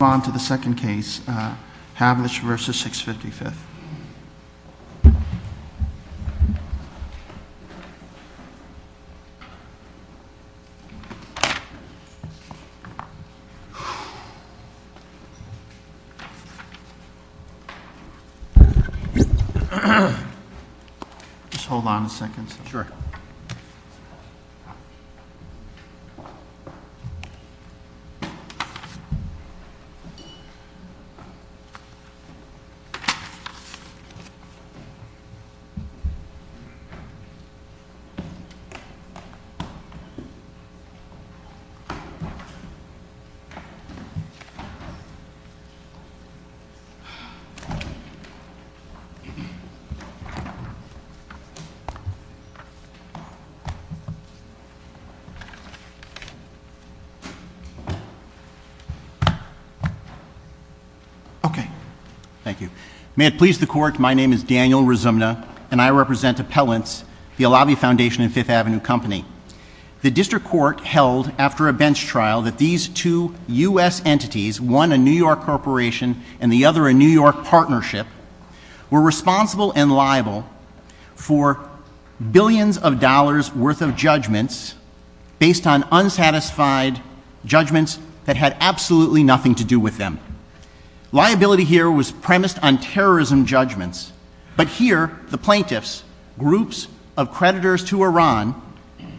On to the second case, Havlisch v. 655th. Just hold on a second. Sure. Okay. Thank you. May it please the Court, my name is Daniel Rizumna, and I represent Appellants, the Alavi Foundation and Fifth Avenue Company. The District Court held, after a bench trial, that these two U.S. entities, one a New York corporation and the other a New York partnership, were responsible and liable for billions of dollars worth of judgments based on unsatisfied judgments that had absolutely nothing to do with them. Liability here was premised on terrorism judgments. But here, the plaintiffs, groups of creditors to Iran,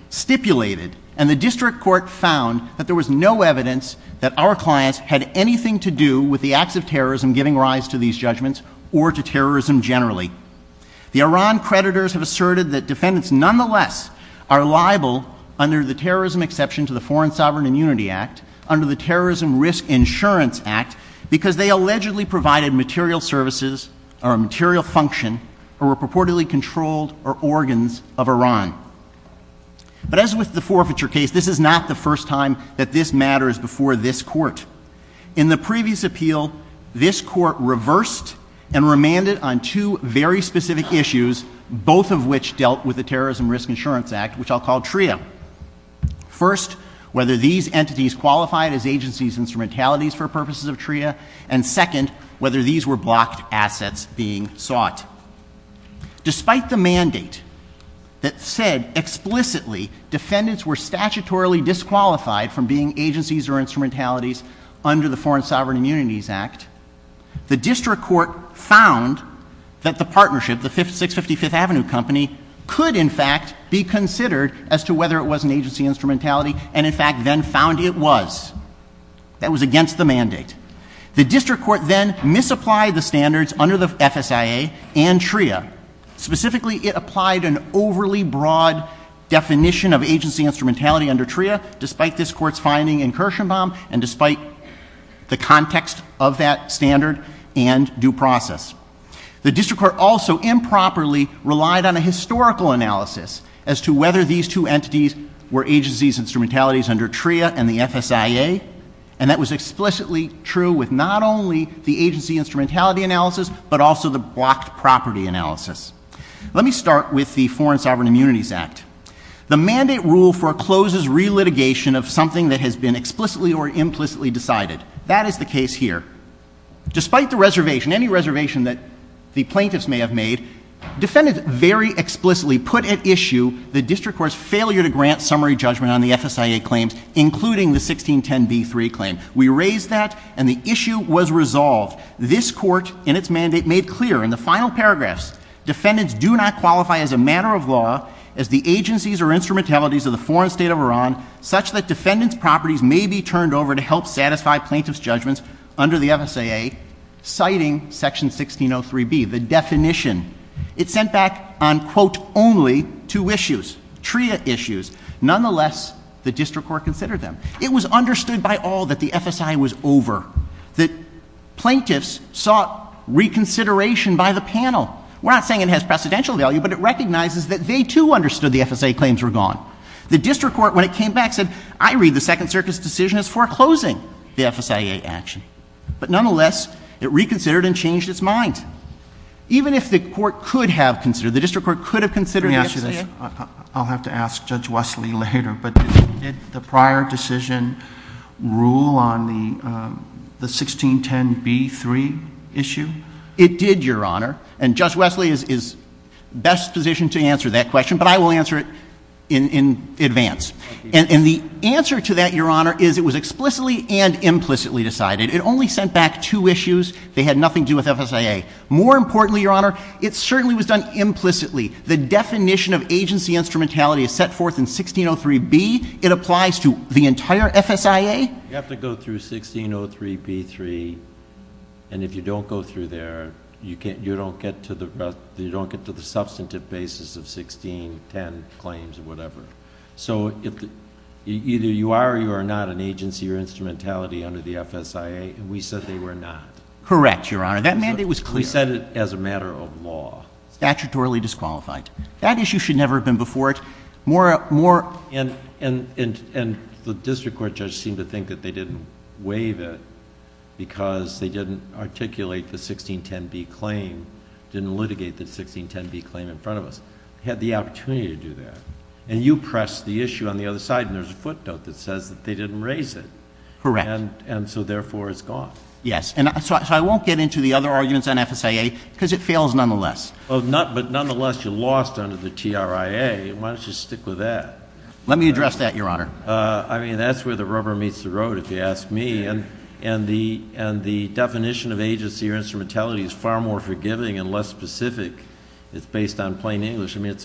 stipulated and the District Court found that there was no evidence that our clients had anything to do with the acts of terrorism giving rise to these judgments or to terrorism generally. The Iran creditors have asserted that defendants nonetheless are liable, under the terrorism exception to the Foreign Sovereign Immunity Act, under the Terrorism Risk Insurance Act, because they allegedly provided material services or material function or were purportedly controlled or organs of Iran. But as with the forfeiture case, this is not the first time that this matters before this Court. In the previous appeal, this Court reversed and remanded on two very specific issues, both of which dealt with the Terrorism Risk Insurance Act, which I'll call TRIA. First, whether these entities qualified as agencies instrumentalities for purposes of TRIA, and second, whether these were blocked assets being sought. Despite the mandate that said explicitly defendants were statutorily disqualified from being agencies or instrumentalities under the Foreign Sovereign Immunities Act, the District Court found that the partnership, the 655th Avenue Company, could in fact be considered as to whether it was an agency instrumentality, and in fact then found it was. That was against the mandate. The District Court then misapplied the standards under the FSIA and TRIA. Specifically, it applied an overly broad definition of agency instrumentality under TRIA, despite this Court's finding in Kirshenbaum and despite the context of that standard and due process. The District Court also improperly relied on a historical analysis as to whether these two entities were agencies instrumentalities under TRIA and the FSIA, and that was explicitly true with not only the agency instrumentality analysis, but also the blocked property analysis. Let me start with the Foreign Sovereign Immunities Act. The mandate rule forecloses relitigation of something that has been explicitly or implicitly here. Despite the reservation, any reservation that the plaintiffs may have made, defendants very explicitly put at issue the District Court's failure to grant summary judgment on the FSIA claims, including the 1610b3 claim. We raised that, and the issue was resolved. This Court, in its mandate, made clear in the final paragraphs, defendants do not qualify as a matter of law as the agencies or instrumentalities of the foreign state of Iran, such that defendants' properties may be turned over to help satisfy plaintiffs' judgments under the FSIA, citing Section 1603b, the definition. It sent back on, quote, only two issues, TRIA issues. Nonetheless, the District Court considered them. It was understood by all that the FSIA was over, that plaintiffs sought reconsideration by the panel. We're not saying it has precedential value, but it recognizes that they, too, understood the FSIA claims were gone. The District Court, when it came back, said, I read the Second Circuit's decision as foreclosing the FSIA action. But nonetheless, it reconsidered and changed its mind. Even if the Court could have considered, the District Court could have considered the FSIA. JUSTICE ALITO, I'll have to ask Judge Wesley later, but did the prior decision rule on the 1610b3 issue? It did, Your Honor. And Judge Wesley is best positioned to answer that question, but I will answer it in advance. And the answer to that, Your Honor, is it was explicitly and implicitly decided. It only sent back two issues. They had nothing to do with FSIA. More importantly, Your Honor, it certainly was done implicitly. The definition of agency instrumentality is set forth in 1603b. It applies to the entire FSIA. You have to go through 1603b3, and if you don't go through there, you don't get to the substantive basis of 1610 claims or whatever. So, either you are or you are not an agency or instrumentality under the FSIA, and we said they were not. Correct, Your Honor. That mandate was clear. We said it as a matter of law. Statutorily disqualified. That issue should never have been before it. More — And the District Court judge seemed to think that they didn't waive it because they didn't articulate the 1610b claim, didn't litigate the 1610b claim in front of us. They had the opportunity to do that. And you pressed the issue on the other side, and there's a footnote that says that they didn't raise it. Correct. And so, therefore, it's gone. Yes. And so I won't get into the other arguments on FSIA because it fails nonetheless. But nonetheless, you lost under the TRIA. Why don't you stick with that? Let me address that, Your Honor. I mean, that's where the rubber meets the road, if you ask me. And the definition of agency or instrumentality is far more forgiving and less specific. It's based on plain English. I mean,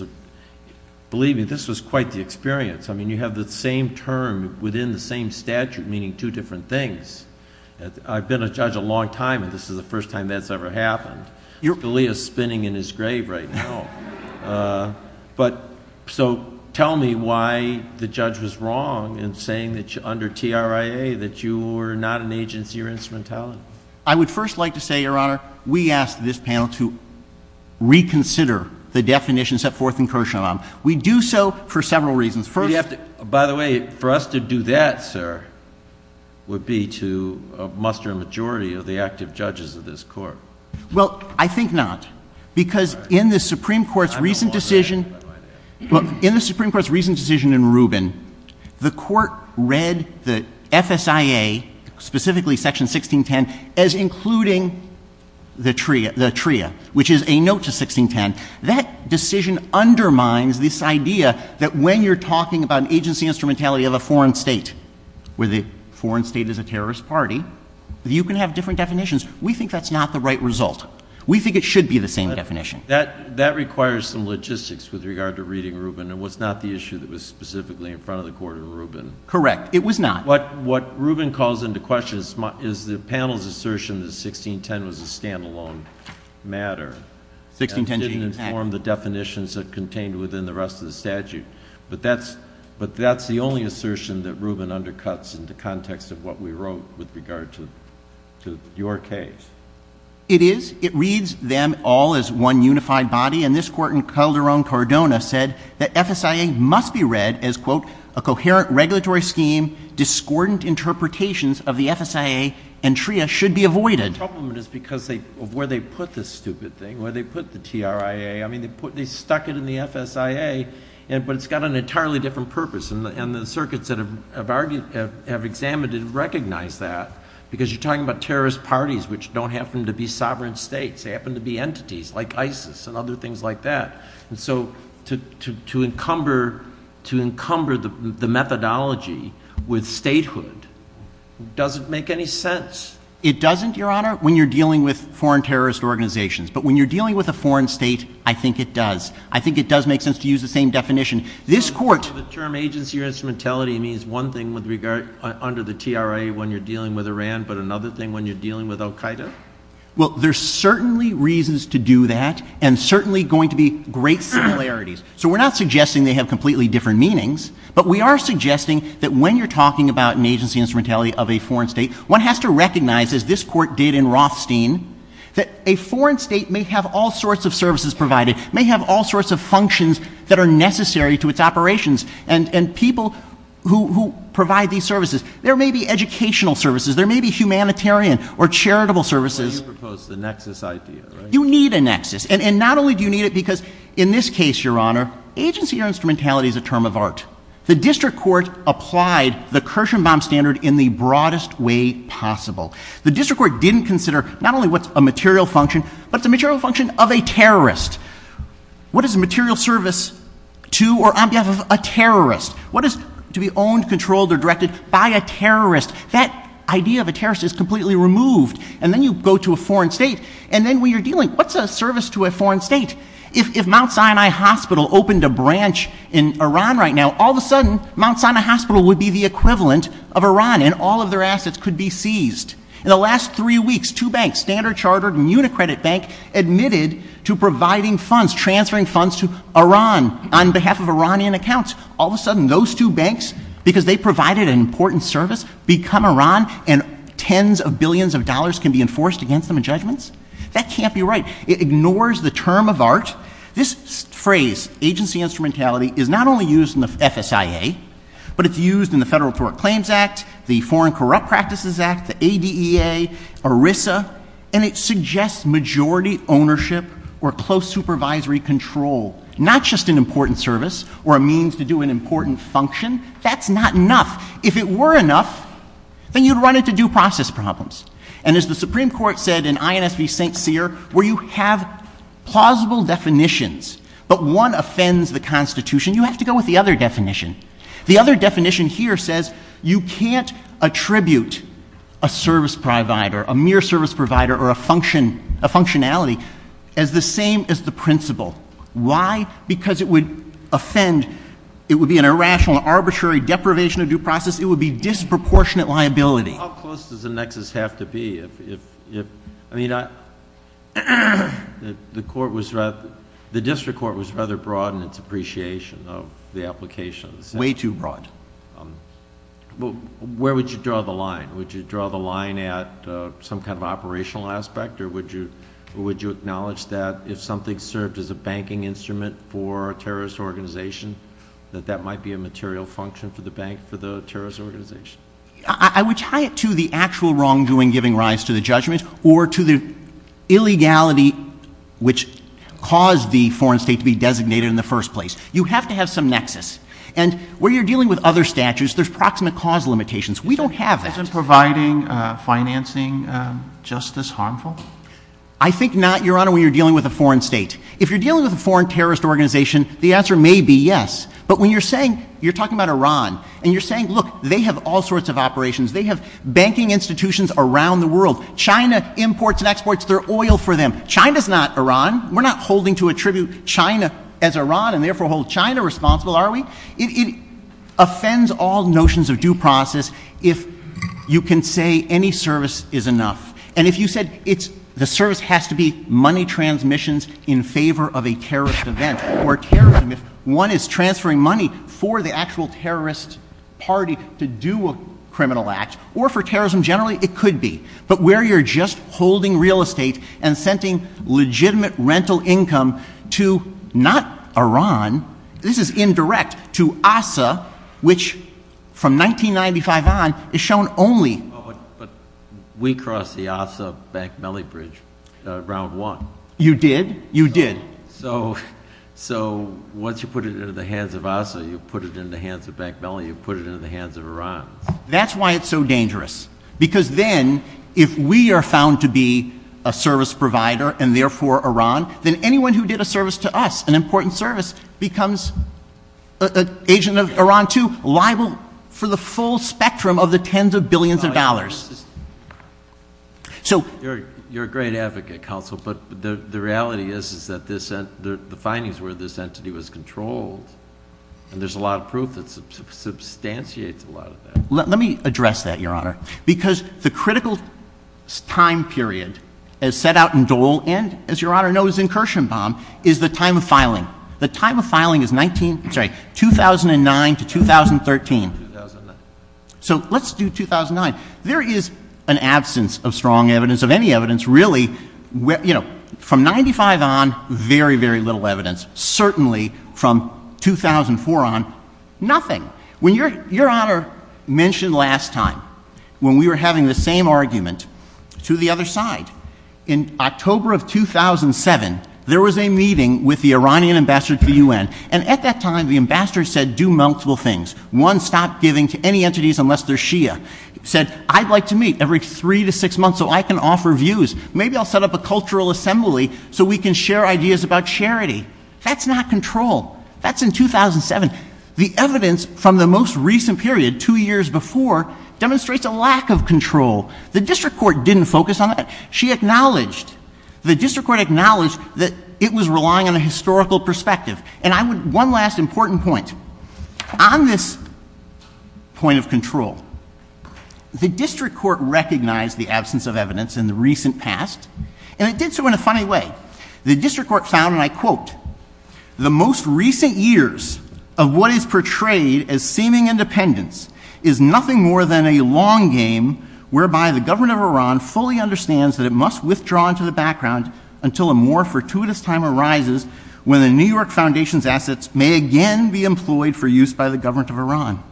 believe me, this was quite the experience. I mean, you have the same term within the same statute meaning two different things. I've been a judge a long time, and this is the first time that's ever happened. Scalia's spinning in his grave right now. So tell me why the judge was wrong in saying that under TRIA that you were not an agency or instrumentality. I would first like to say, Your Honor, we asked this panel to reconsider the definition set forth in Kirshenblum. We do so for several reasons. By the way, for us to do that, sir, would be to muster a majority of the active judges of this court. Well, I think not, because in the Supreme Court's recent decision in Rubin, the Court read the FSIA, specifically Section 1610, as including the TRIA, which is a note to 1610. That decision undermines this idea that when you're talking about an agency instrumentality of a foreign state, where the foreign state is a terrorist party, you can have different definitions. We think that's not the right result. We think it should be the same definition. That requires some logistics with regard to reading Rubin. It was not the issue that was specifically in front of the Court in Rubin. Correct. It was not. What Rubin calls into question is the panel's assertion that 1610 was a stand-alone matter and didn't inform the definitions that contained within the rest of the statute. But that's the only assertion that Rubin undercuts in the context of what we wrote with regard to your case. It is. It reads them all as one unified body. And this Court in Calderón Cardona said that FSIA must be read as, quote, a coherent regulatory scheme, discordant interpretations of the FSIA and TRIA should be avoided. The problem is because of where they put this stupid thing, where they put the TRIA. I mean, they stuck it in the FSIA, but it's got an entirely different purpose. And the circuits that have examined it recognize that because you're talking about terrorist parties, which don't happen to be sovereign states. They happen to be entities like ISIS and other things like that. And so to encumber the methodology with statehood doesn't make any sense. It doesn't, Your Honor, when you're dealing with foreign terrorist organizations. But when you're dealing with a foreign state, I think it does. I think it does make sense to use the same definition. This Court The term agency or instrumentality means one thing with regard under the TRIA when you're dealing with Iran, but another thing when you're dealing with al-Qaeda? Well, there's certainly reasons to do that and certainly going to be great similarities. So we're not suggesting they have completely different meanings. But we are suggesting that when you're talking about an agency instrumentality of a foreign state, one has to recognize, as this Court did in Rothstein, that a foreign state may have all sorts of services provided, may have all sorts of functions that are necessary to its operations. And people who provide these services, there may be educational services, there may be humanitarian or charitable services. So you propose the nexus idea, right? You need a nexus. And not only do you need it because in this case, Your Honor, agency or instrumentality is a term of art. The District Court applied the Kirshenbaum standard in the broadest way possible. The District Court didn't consider not only what's a material function, but it's a material function of a terrorist. What is a material service to or on behalf of a terrorist? What is to be owned, controlled, or directed by a terrorist? That idea of a terrorist is completely removed. And then you go to a foreign state. And then when you're dealing, what's a service to a foreign state? If Mount Sinai Hospital opened a branch in Iran right now, all of a sudden, Mount Sinai Hospital would be the equivalent of Iran and all of their assets could be seized. In the last three weeks, two banks, Standard Chartered and Unicredit Bank, admitted to providing funds, transferring funds to Iran on behalf of Iranian accounts. All of a sudden, those two banks, because they provided an important service, become Iran and tens of billions of dollars can be enforced against them in judgments? That can't be right. It ignores the term of art. This phrase, agency instrumentality, is not only used in the FSIA, but it's used in the Federal Tort Claims Act, the Foreign Corrupt Practices Act, the ADEA, ERISA. And it suggests majority ownership or close supervisory control, not just an important service or a means to do an important function. That's not enough. If it were enough, then you'd run into due process problems. And as the Supreme Court said in INS v. St. Cyr, where you have plausible definitions, but one offends the Constitution, you have to go with the other definition. The other definition here says you can't attribute a service provider, a mere service provider or a function, a functionality, as the same as the principle. Why? Because it would offend, it would be an irrational, arbitrary deprivation of due process. It would be disproportionate liability. How close does the nexus have to be? If, if, if, I mean, I, the Court was rather, the District was rather, you know, just a, a, a, a, a, a, a, a, a, a, a, an association of the applications. Way too broad. Um, well, where would you draw the line? Would you draw the line at, uh, some kind of operational aspect or would you, or would you acknowledge that if something served as a banking instrument for a terrorist organization, that that might be a material function for the bank, for the terrorist organization? I would tie it to the actual wrongdoing giving rise to the judgments or to the illegality which caused the foreign state to be designated in the first place. You have to have some nexus and where you're dealing with other statutes, there's proximate cause limitations. We don't have that. Isn't providing, uh, financing, um, justice harmful? I think not, Your Honor, when you're dealing with a foreign state. If you're dealing with a foreign terrorist organization, the answer may be yes, but when you're saying, you're talking about Iran and you're saying, look, they have all sorts of operations. They have China's not Iran. We're not holding to attribute China as Iran and therefore hold China responsible, are we? It, it offends all notions of due process if you can say any service is enough. And if you said it's, the service has to be money transmissions in favor of a terrorist event or terrorism, if one is transferring money for the actual terrorist party to do a criminal act or for terrorism generally, it could be, but where you're just holding real estate and sending legitimate rental income to not Iran, this is indirect to Asa, which from 1995 on is shown only. We cross the Asa-Bakmali bridge, uh, round one. You did, you did. So, so once you put it into the hands of Asa, you put it in the hands of Bakmali, you put it into the hands of Iran. That's why it's so dangerous because then if we are found to be a service provider and therefore Iran, then anyone who did a service to us, an important service becomes an agent of Iran too, liable for the full spectrum of the tens of billions of dollars. So you're, you're a great advocate council, but the reality is, is that this, the findings where this entity was controlled and there's a lot of proof that's substantiates a lot of that. Let me address that your honor, because the critical time period as set out in Dole and as your honor knows, incursion bomb is the time of filing. The time of filing is 19, sorry, 2009 to 2013. So let's do 2009. There is an absence of strong evidence of any evidence really where, you know, from 95 on very, very little evidence, certainly from 2004 on nothing. When your, your honor mentioned last time when we were having the same argument to the other side, in October of 2007, there was a meeting with the Iranian ambassador to UN and at that time the ambassador said, do multiple things. One stop giving to any entities unless they're Shia, said, I'd like to meet every three to six months so I can offer views. Maybe I'll set up a cultural assembly so we can share ideas about charity. That's not control. That's in 2007. The evidence from the most recent period, two years before, demonstrates a lack of control. The district court didn't focus on that. She acknowledged, the district court acknowledged that it was relying on a historical perspective. And I would, one last important point. On this point of control, the district court recognized the absence of evidence in the recent past and it did so in a funny way. The district court found, and I quote, the most recent years of what is portrayed as seeming independence is nothing more than a long game whereby the government of Iran fully understands that it must withdraw into the background until a more fortuitous time arises when the New York Foundation's assets may again be employed for use by the government of Iran.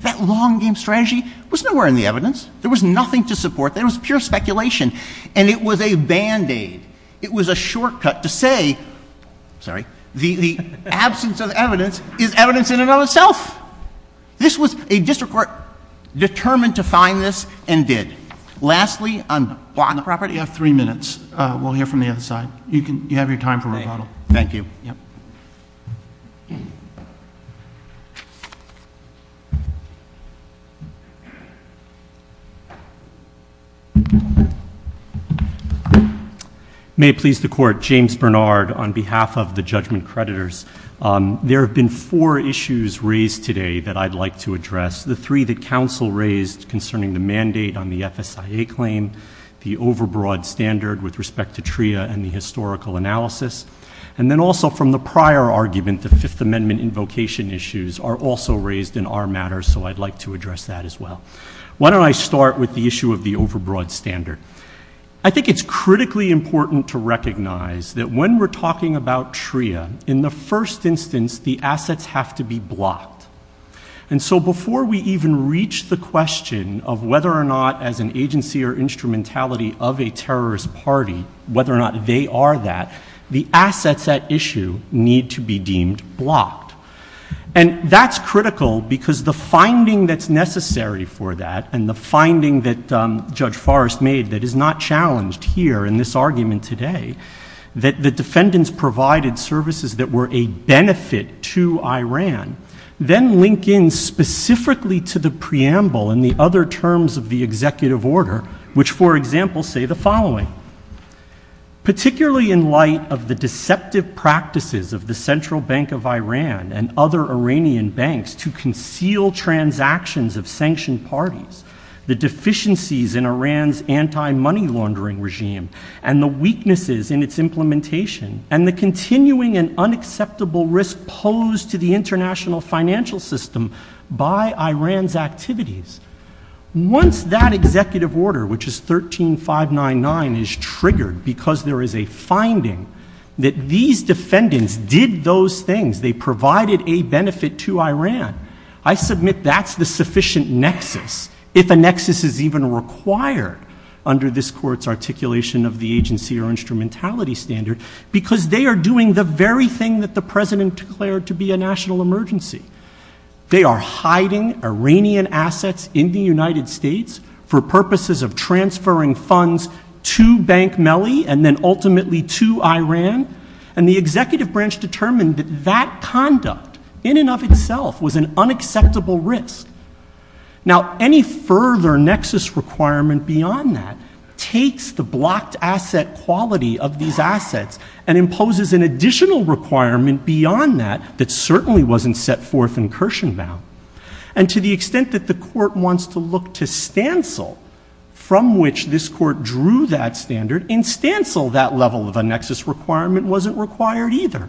That long game strategy was nowhere in the evidence. There was nothing to support. There was pure speculation. And it was a band-aid. It was a shortcut to say, sorry, the absence of evidence is evidence in and of itself. This was a district court determined to find this and did. Lastly, on the property of three minutes, we'll hear from the other side. You can, you have your time for rebuttal. Thank you. Yep. May it please the court, James Bernard on behalf of the judgment creditors. There have been four issues raised today that I'd like to address. The three that counsel raised concerning the mandate on the FSIA claim, the overbroad standard with respect to TRIA and the historical analysis. And then also from the prior argument, the Fifth Amendment invocation issues are also raised in our matter, so I'd like to address that as well. Why don't I start with the issue of the overbroad standard? I think it's critically important to recognize that when we're talking about TRIA, in the first instance, the assets have to be blocked. And so before we even reach the question of whether or not as an agency or instrumentality of a terrorist party, whether or not they are that, the assets at issue need to be deemed blocked. And that's critical because the finding that's necessary for that and the finding that Judge Forrest made that is not challenged here in this argument today, that the defendants provided services that were a benefit to Iran, then link in specifically to the preamble and the other terms of the executive order, which, for example, say the following. Particularly in light of the deceptive practices of the Central Bank of Iran and other Iranian banks to conceal transactions of sanctioned parties, the deficiencies in Iran's anti-money laundering regime, and the weaknesses in its implementation, and the continuing and unacceptable risk posed to the international financial system by Iran's activities, once that executive order, which is 13-599, is triggered because there is a finding that these defendants did those things, they provided a benefit to Iran, I submit that's the sufficient nexus, if a nexus is even required under this Court's articulation of the agency or instrumentality standard, because they are doing the very thing that the President declared to be a national emergency. They are hiding Iranian assets in the United States for purposes of transferring funds to Bank Melli and then ultimately to Iran, and the executive branch determined that that conduct, in and of itself, was an unacceptable risk. Now, any further nexus requirement beyond that takes the blocked asset quality of these assets and imposes an additional requirement beyond that that certainly wasn't set forth in Kirshenbaum, and to the extent that the Court wants to look to stancel from which this Court drew that standard, in stancel that level of a nexus requirement wasn't required either.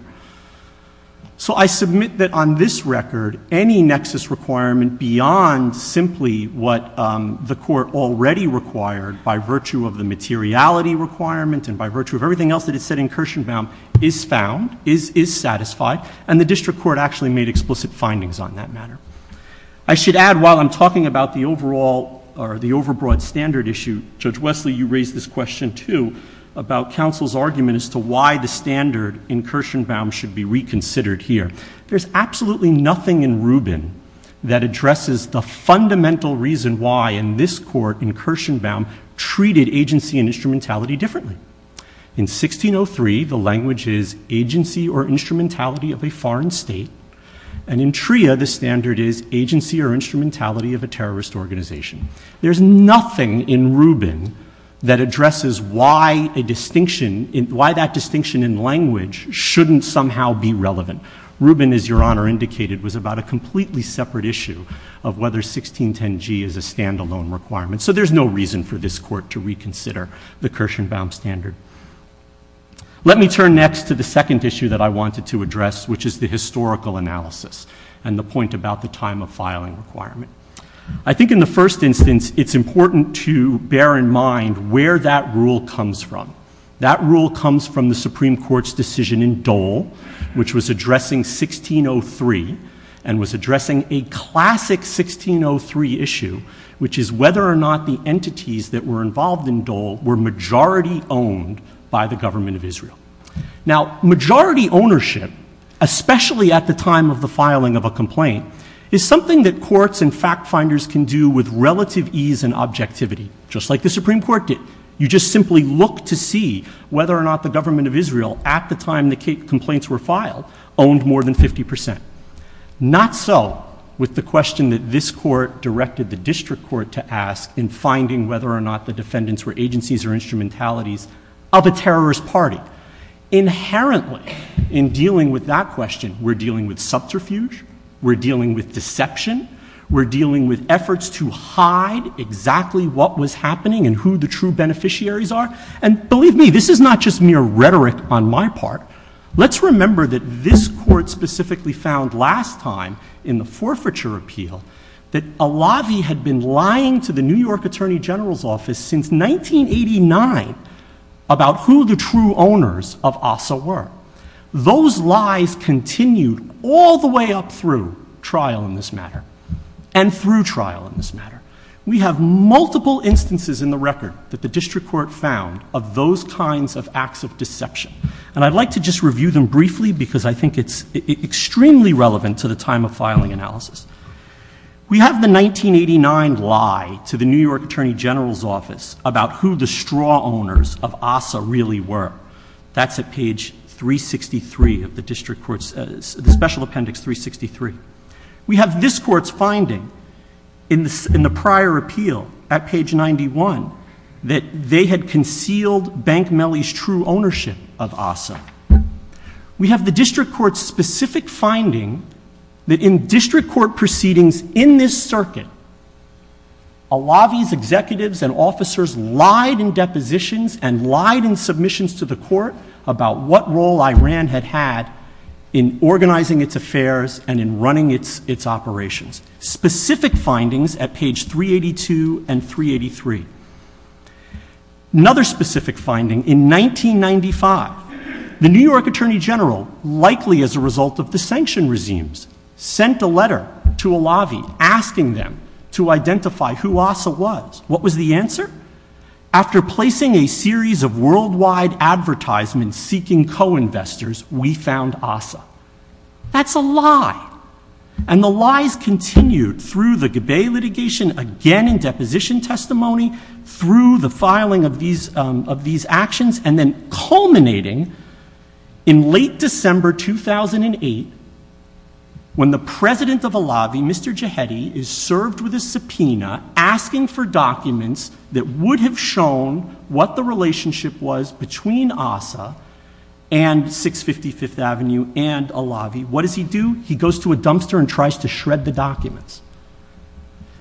So I submit that on this record, any nexus requirement beyond simply what the Court already required, by virtue of the materiality requirement and by virtue of everything else that it said in Kirshenbaum, is found, is satisfied, and the District Court actually made explicit findings on that matter. I should add, while I'm talking about the overall, or the overbroad standard issue, Judge Wesley, you raised this question, too, about counsel's argument as to why the standard in Kirshenbaum should be reconsidered here. There's absolutely nothing in Rubin that addresses the fundamental reason why, in this Court, in Kirshenbaum, treated agency and instrumentality differently. In 1603, the language is agency or instrumentality of a foreign state, and in TRIA, the standard is agency or instrumentality of a terrorist organization. There's nothing in Rubin that addresses why a distinction, why that distinction in language shouldn't somehow be relevant. Rubin, as Your Honor indicated, was about a completely separate issue of whether 1610G is a standalone requirement. So, there's no reason for this Court to reconsider the Kirshenbaum standard. Let me turn next to the second issue that I wanted to address, which is the historical analysis and the point about the time of filing requirement. I think in the first instance, it's important to bear in mind where that rule comes from. That rule comes from the Supreme Court's decision in Dole, which was addressing 1603 and was asking whether or not the entities that were involved in Dole were majority owned by the Government of Israel. Now, majority ownership, especially at the time of the filing of a complaint, is something that courts and fact-finders can do with relative ease and objectivity, just like the Supreme Court did. You just simply look to see whether or not the Government of Israel, at the time the complaints were filed, owned more than 50 percent. Not so with the question that this Court directed the District Court to ask in finding whether or not the defendants were agencies or instrumentalities of a terrorist party. Inherently, in dealing with that question, we're dealing with subterfuge, we're dealing with deception, we're dealing with efforts to hide exactly what was happening and who the true beneficiaries are. And believe me, this is not just mere rhetoric on my part. Let's remember that this Court specifically found last time in the forfeiture appeal that Alavi had been lying to the New York Attorney General's Office since 1989 about who the true owners of Asa were. Those lies continued all the way up through trial in this matter, and through trial in this matter. We have multiple instances in the record that the District Court found of those kinds of acts of deception. And I'd like to just review them briefly because I think it's extremely relevant to the time of filing analysis. We have the 1989 lie to the New York Attorney General's Office about who the straw owners of Asa really were. That's at page 363 of the District Court's Special Appendix 363. We have this Court's finding in the prior appeal, at page 91, that they had concealed Bank Mellie's true ownership of Asa. We have the District Court's specific finding that in District Court proceedings in this circuit, Alavi's executives and officers lied in depositions and lied in submissions to the Court about what role Iran had had in organizing its affairs and in running its operations. Specific findings at page 382 and 383. Another specific finding, in 1995, the New York Attorney General, likely as a result of the sanction regimes, sent a letter to Alavi asking them to identify who Asa was. What was the answer? After placing a series of worldwide advertisements seeking co-investors, we found Asa. That's a lie. And the lies continued through the Gabay litigation, again in deposition testimony, through the filing of these actions, and then culminating in late December 2008, when the president of Alavi, Mr. Jahedi, is served with a subpoena asking for documents that would have shown what the relationship was between Asa and 655th Avenue and Alavi. What does he do? He goes to a dumpster and tries to shred the documents.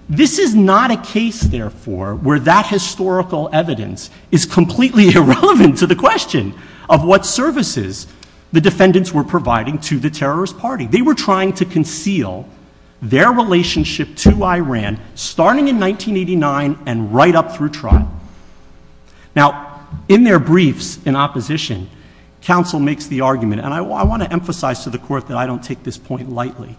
This is not a case, therefore, where that historical evidence is completely irrelevant to the question of what services the defendants were providing to the terrorist party. They were trying to conceal their relationship to Iran, starting in 1989 and right up through trial. Now, in their briefs in opposition, counsel makes the argument, and I want to emphasize to the Court that I don't take this point lightly,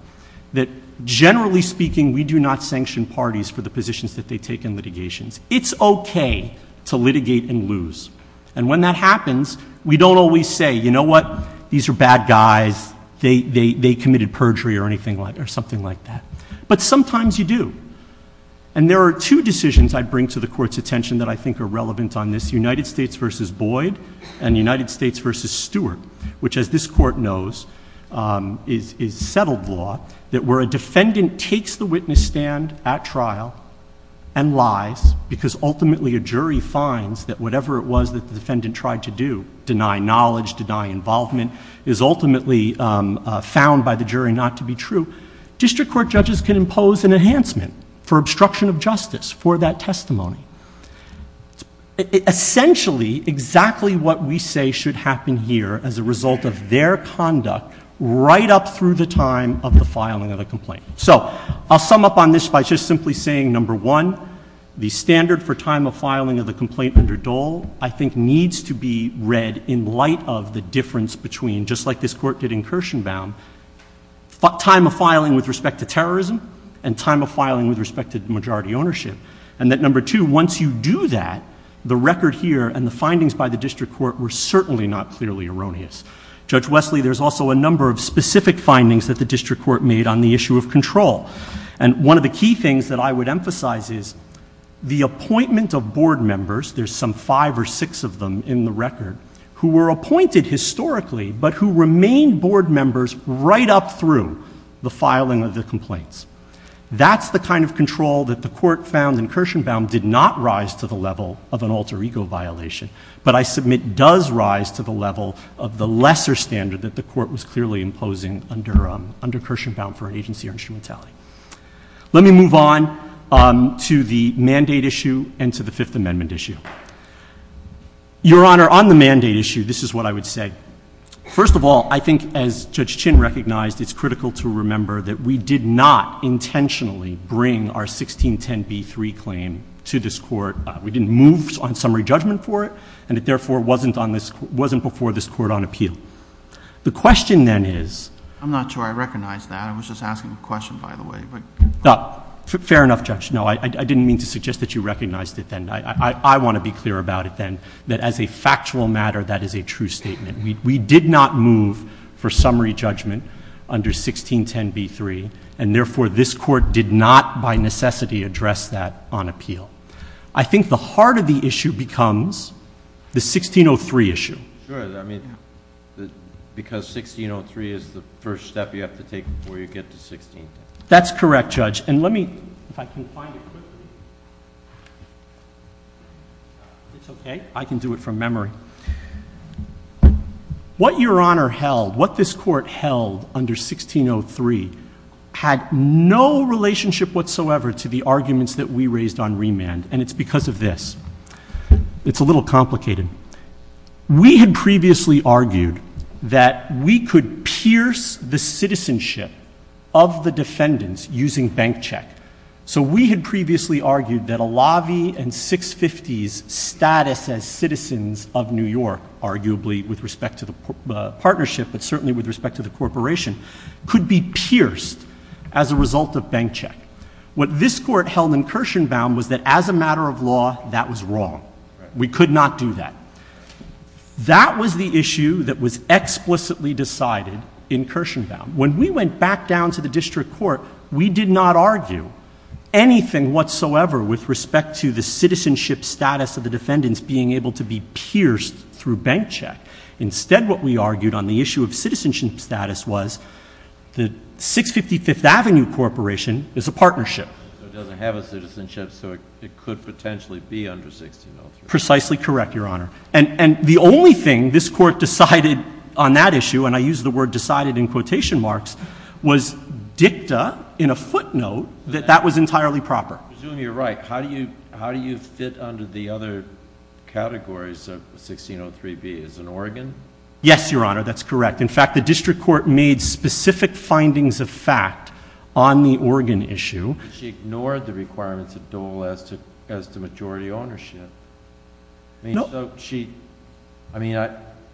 that generally speaking, we do not sanction parties for the positions that they take in litigations. It's okay to litigate and lose. And when that happens, we don't always say, you know what, these are bad guys, they committed perjury or something like that. But sometimes you do. And there are two decisions I bring to the Court's attention that I think are relevant on this, United States v. Boyd and United States v. Stewart, which, as this Court knows, is settled law, that where a defendant takes the witness stand at trial and lies, because ultimately a jury finds that whatever it was that the defendant tried to do, deny knowledge, deny involvement, is ultimately found by the jury not to be true, district court judges can impose an enhancement for obstruction of justice for that testimony. Essentially, exactly what we say should happen here as a result of their conduct right up through the time of the filing of the complaint. So I'll sum up on this by just simply saying, number one, the standard for time of filing of the complaint under Dole I think needs to be read in light of the difference between, just like this Court did in Kirshenbaum, time of filing with respect to terrorism and time of filing with respect to majority ownership. And that, number two, once you do that, the record here and the findings by the district court were certainly not clearly erroneous. Judge Wesley, there's also a number of specific findings that the district court made on the issue of control. And one of the key things that I would emphasize is the appointment of board members, there's some five or six of them in the record, who were appointed historically, but who remained board members right up through the filing of the complaints. That's the kind of control that the Court found in Kirshenbaum did not rise to the level of an alter ego violation. But I submit does rise to the level of the lesser standard that the Court was clearly imposing under Kirshenbaum for agency or instrumentality. Let me move on to the mandate issue and to the Fifth Amendment issue. Your Honor, on the mandate issue, this is what I would say. First of all, I think as Judge Chin recognized, it's critical to remember that we did not intentionally bring our 1610b3 claim to this Court. We didn't move on summary judgment for it, and it therefore wasn't before this Court on appeal. The question then is. I'm not sure I recognize that. I was just asking a question, by the way. Fair enough, Judge. No, I didn't mean to suggest that you recognized it then. I want to be clear about it then, that as a factual matter, that is a true statement. We did not move for summary judgment under 1610b3, and therefore, this Court did not by necessity address that on appeal. I think the heart of the issue becomes the 1603 issue. Sure, I mean, because 1603 is the first step you have to take before you get to 1610. That's correct, Judge. And let me, if I can find it quickly. It's okay, I can do it from memory. What Your Honor held, what this Court held under 1603 had no relationship whatsoever to the arguments that we raised on remand, and it's because of this. It's a little complicated. We had previously argued that we could pierce the citizenship of the defendants using bank check. So we had previously argued that a lobby and 650s status as citizens of New York, arguably with respect to the partnership, but certainly with respect to the corporation, could be pierced as a result of bank check. What this Court held incursion bound was that as a matter of law, that was wrong. We could not do that. That was the issue that was explicitly decided incursion bound. When we went back down to the district court, we did not argue anything whatsoever with respect to the citizenship status of the defendants being able to be pierced through bank check. Instead, what we argued on the issue of citizenship status was the 655th Avenue Corporation is a partnership. It doesn't have a citizenship, so it could potentially be under 1603. Precisely correct, Your Honor. And the only thing this Court decided on that issue, and I use the word decided in quotation marks, was dicta in a footnote that that was entirely proper. I presume you're right. How do you fit under the other categories of 1603B? Is it Oregon? Yes, Your Honor, that's correct. In fact, the district court made specific findings of fact on the Oregon issue. She ignored the requirements of Dole as to majority ownership. I mean, so she, I mean, I-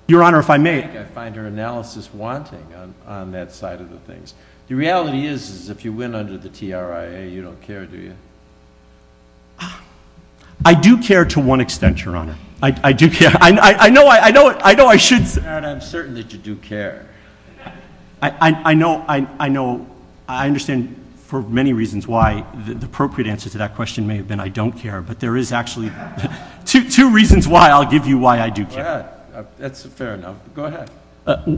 Your Honor, if I may. I find her analysis wanting on that side of the things. The reality is, is if you win under the TRIA, you don't care, do you? I do care to one extent, Your Honor. I do care. I know I should say- Your Honor, I'm certain that you do care. I know, I understand for many reasons why the appropriate answer to that question may have been I don't care. But there is actually two reasons why I'll give you why I do care. That's fair enough, go ahead.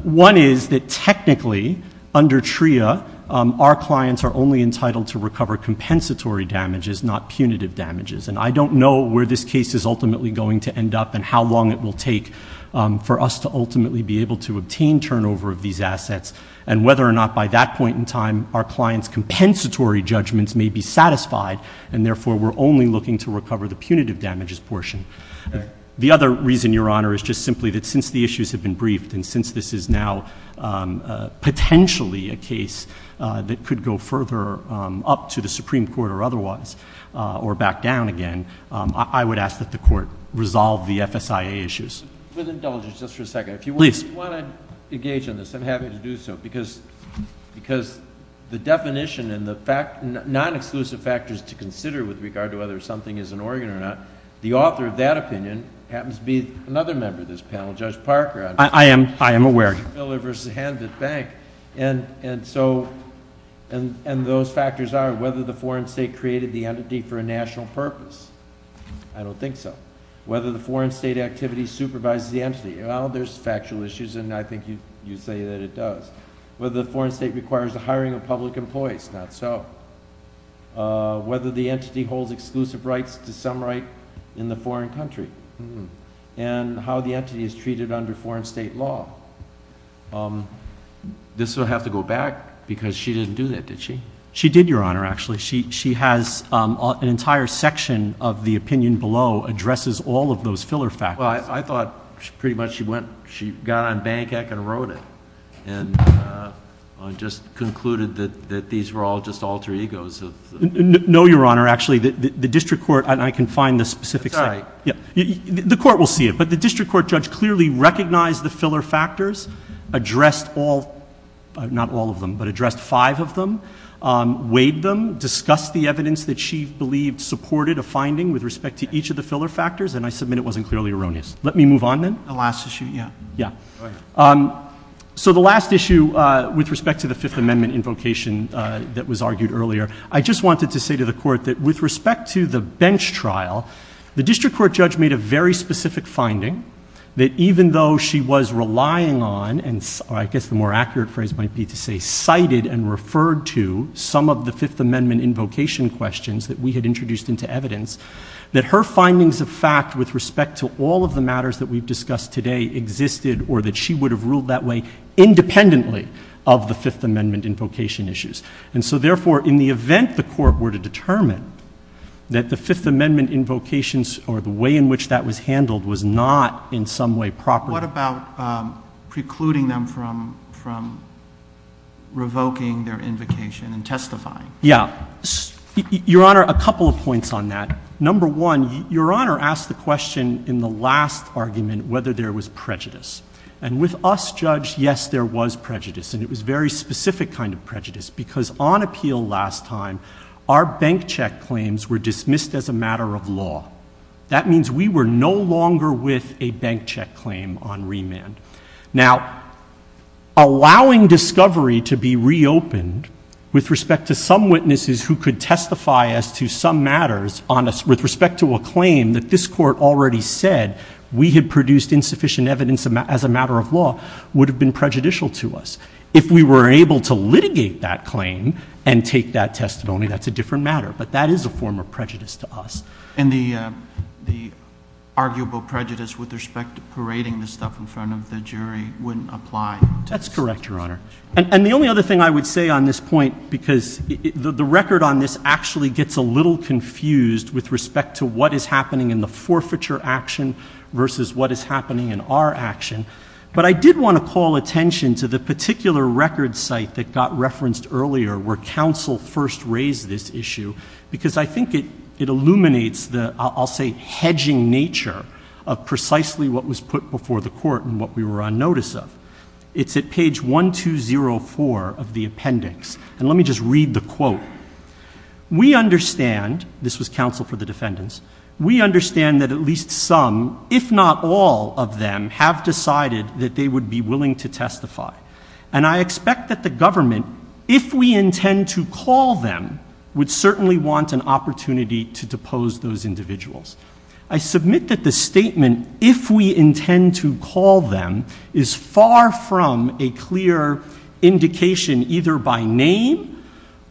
One is that technically, under TRIA, our clients are only entitled to recover compensatory damages, not punitive damages. And I don't know where this case is ultimately going to end up and how long it will take for us to ultimately be able to obtain turnover of these assets and whether or not by that point in time, our client's compensatory judgments may be satisfied and therefore we're only looking to recover the punitive damages portion. The other reason, Your Honor, is just simply that since the issues have been briefed and since this is now potentially a case that could go further up to the Supreme Court or otherwise, or back down again. I would ask that the court resolve the FSIA issues. With indulgence, just for a second. If you want to engage in this, I'm happy to do so, because the definition and the non-exclusive factors to consider with regard to whether something is an organ or not. The author of that opinion happens to be another member of this panel, Judge Parker. I am aware. Miller versus Hand that Bank. And those factors are whether the foreign state created the entity for a national purpose. I don't think so. Whether the foreign state activity supervises the entity. Well, there's factual issues and I think you say that it does. Whether the foreign state requires the hiring of public employees, not so. Whether the entity holds exclusive rights to some right in the foreign country. And how the entity is treated under foreign state law. This will have to go back, because she didn't do that, did she? She did, Your Honor, actually. She has an entire section of the opinion below, addresses all of those filler factors. Well, I thought pretty much she got on bank heck and wrote it. And just concluded that these were all just alter egos of- No, Your Honor. Actually, the district court, and I can find the specific- It's all right. Yeah, the court will see it. But the district court judge clearly recognized the filler factors. Addressed all, not all of them, but addressed five of them. Weighed them, discussed the evidence that she believed supported a finding with respect to each of the filler factors. And I submit it wasn't clearly erroneous. Let me move on then. The last issue, yeah. Yeah. So the last issue with respect to the Fifth Amendment invocation that was argued earlier. I just wanted to say to the court that with respect to the bench trial, the district court judge made a very specific finding. That even though she was relying on, and I guess the more accurate phrase might be to say cited and referred to some of the Fifth Amendment invocation questions that we had introduced into evidence. That her findings of fact with respect to all of the matters that we've discussed today existed or that she would have ruled that way independently of the Fifth Amendment invocation issues. And so therefore, in the event the court were to determine that the Fifth Amendment invocations or the way in which that was handled was not in some way proper. What about precluding them from revoking their invocation and testifying? Yeah, your honor, a couple of points on that. Number one, your honor asked the question in the last argument whether there was prejudice. And with us, judge, yes there was prejudice. And it was very specific kind of prejudice because on appeal last time, our bank check claims were dismissed as a matter of law. That means we were no longer with a bank check claim on remand. Now, allowing discovery to be reopened with respect to some witnesses who could testify as to some matters, with respect to a claim that this court already said we had produced insufficient evidence as a matter of law, would have been prejudicial to us. If we were able to litigate that claim and take that testimony, that's a different matter. But that is a form of prejudice to us. And the arguable prejudice with respect to parading this stuff in front of the jury wouldn't apply. That's correct, your honor. And the only other thing I would say on this point, because the record on this actually gets a little confused with respect to what is happening in the forfeiture action versus what is happening in our action. But I did want to call attention to the particular record site that got referenced earlier where council first raised this issue. Because I think it illuminates the, I'll say, hedging nature of precisely what was put before the court and what we were on notice of. It's at page 1204 of the appendix. And let me just read the quote. We understand, this was counsel for the defendants, we understand that at least some, if not all of them, have decided that they would be willing to testify. And I expect that the government, if we intend to call them, would certainly want an opportunity to depose those individuals. I submit that the statement, if we intend to call them, is far from a clear indication either by name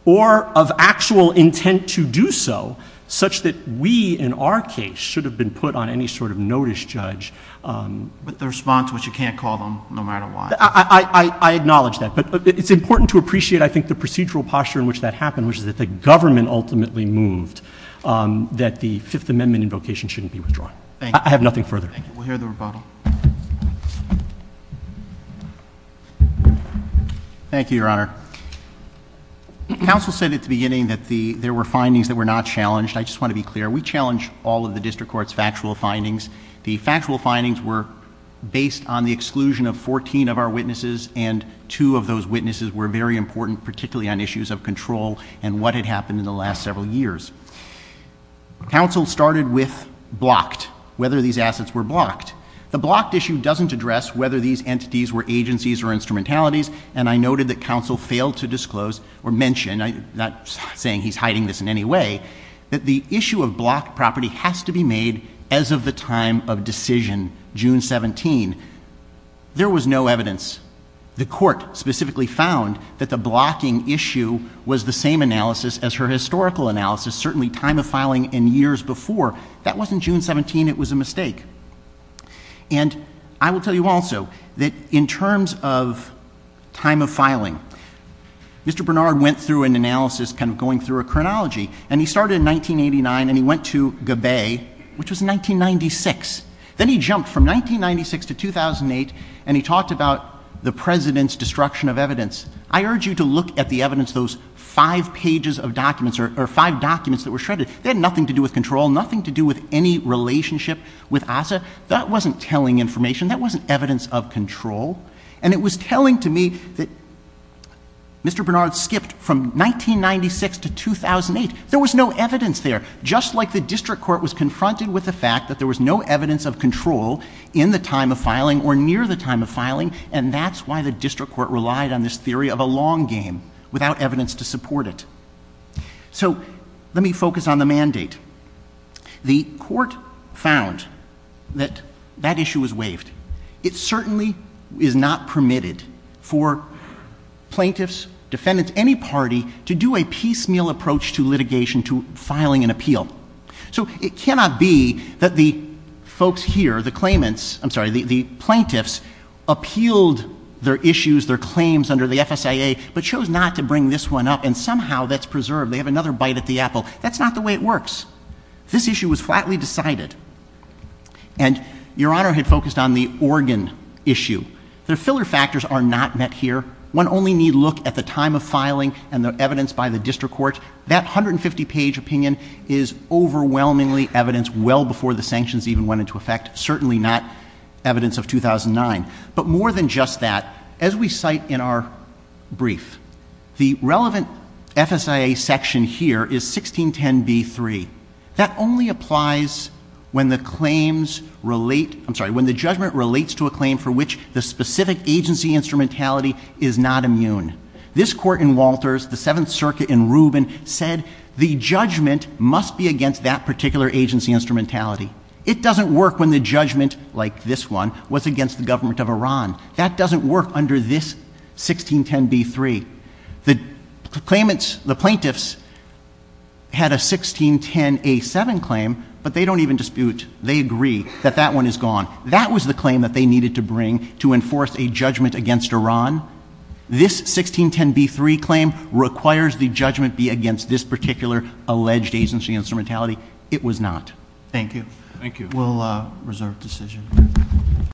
or of actual intent to do so, such that we, in our case, should have been put on any sort of notice, judge. But the response was you can't call them, no matter what. I acknowledge that, but it's important to appreciate, I think, the procedural posture in which that happened, which is that the government ultimately moved that the Fifth Amendment invocation shouldn't be withdrawn. Thank you. I have nothing further. Thank you. We'll hear the rebuttal. Thank you, Your Honor. Council said at the beginning that there were findings that were not challenged. I just want to be clear. We challenge all of the district court's factual findings. The factual findings were based on the exclusion of 14 of our witnesses, and two of those witnesses were very important, particularly on issues of control and what had happened in the last several years. Council started with blocked, whether these assets were blocked. The blocked issue doesn't address whether these entities were agencies or instrumentalities, and I noted that council failed to disclose or mention, I'm not saying he's hiding this in any way, that the issue of blocked property has to be made as of the time of decision, June 17. There was no evidence. The court specifically found that the blocking issue was the same analysis as her historical analysis, certainly time of filing and years before. That wasn't June 17, it was a mistake. And I will tell you also that in terms of time of filing, Mr. Bernard went through an analysis, kind of going through a chronology. And he started in 1989 and he went to Gabay, which was 1996. Then he jumped from 1996 to 2008, and he talked about the President's destruction of evidence. I urge you to look at the evidence, those five pages of documents, or five documents that were shredded. They had nothing to do with control, nothing to do with any relationship with ASSA. That wasn't telling information, that wasn't evidence of control. And it was telling to me that Mr. Bernard skipped from 1996 to 2008. There was no evidence there. Just like the district court was confronted with the fact that there was no evidence of control in the time of filing or near the time of filing. And that's why the district court relied on this theory of a long game without evidence to support it. So, let me focus on the mandate. The court found that that issue was waived. It certainly is not permitted for plaintiffs, defendants, any party to do a piecemeal approach to litigation to filing an appeal. So it cannot be that the folks here, the claimants, I'm sorry, the plaintiffs appealed their issues, their claims under the FSIA, but chose not to bring this one up. And somehow that's preserved, they have another bite at the apple. That's not the way it works. This issue was flatly decided. And your honor had focused on the organ issue. The filler factors are not met here. One only need look at the time of filing and the evidence by the district court. That 150 page opinion is overwhelmingly evidence well before the sanctions even went into effect. Certainly not evidence of 2009. But more than just that, as we cite in our brief, the relevant FSIA section here is 1610B3. That only applies when the judgment relates to a claim for which the specific agency instrumentality is not immune. This court in Walters, the Seventh Circuit in Rubin, said the judgment must be against that particular agency instrumentality. It doesn't work when the judgment, like this one, was against the government of Iran. That doesn't work under this 1610B3. The plaintiffs had a 1610A7 claim, but they don't even dispute. They agree that that one is gone. That was the claim that they needed to bring to enforce a judgment against Iran. This 1610B3 claim requires the judgment be against this particular alleged agency instrumentality. It was not. Thank you. Thank you. We'll reserve decision.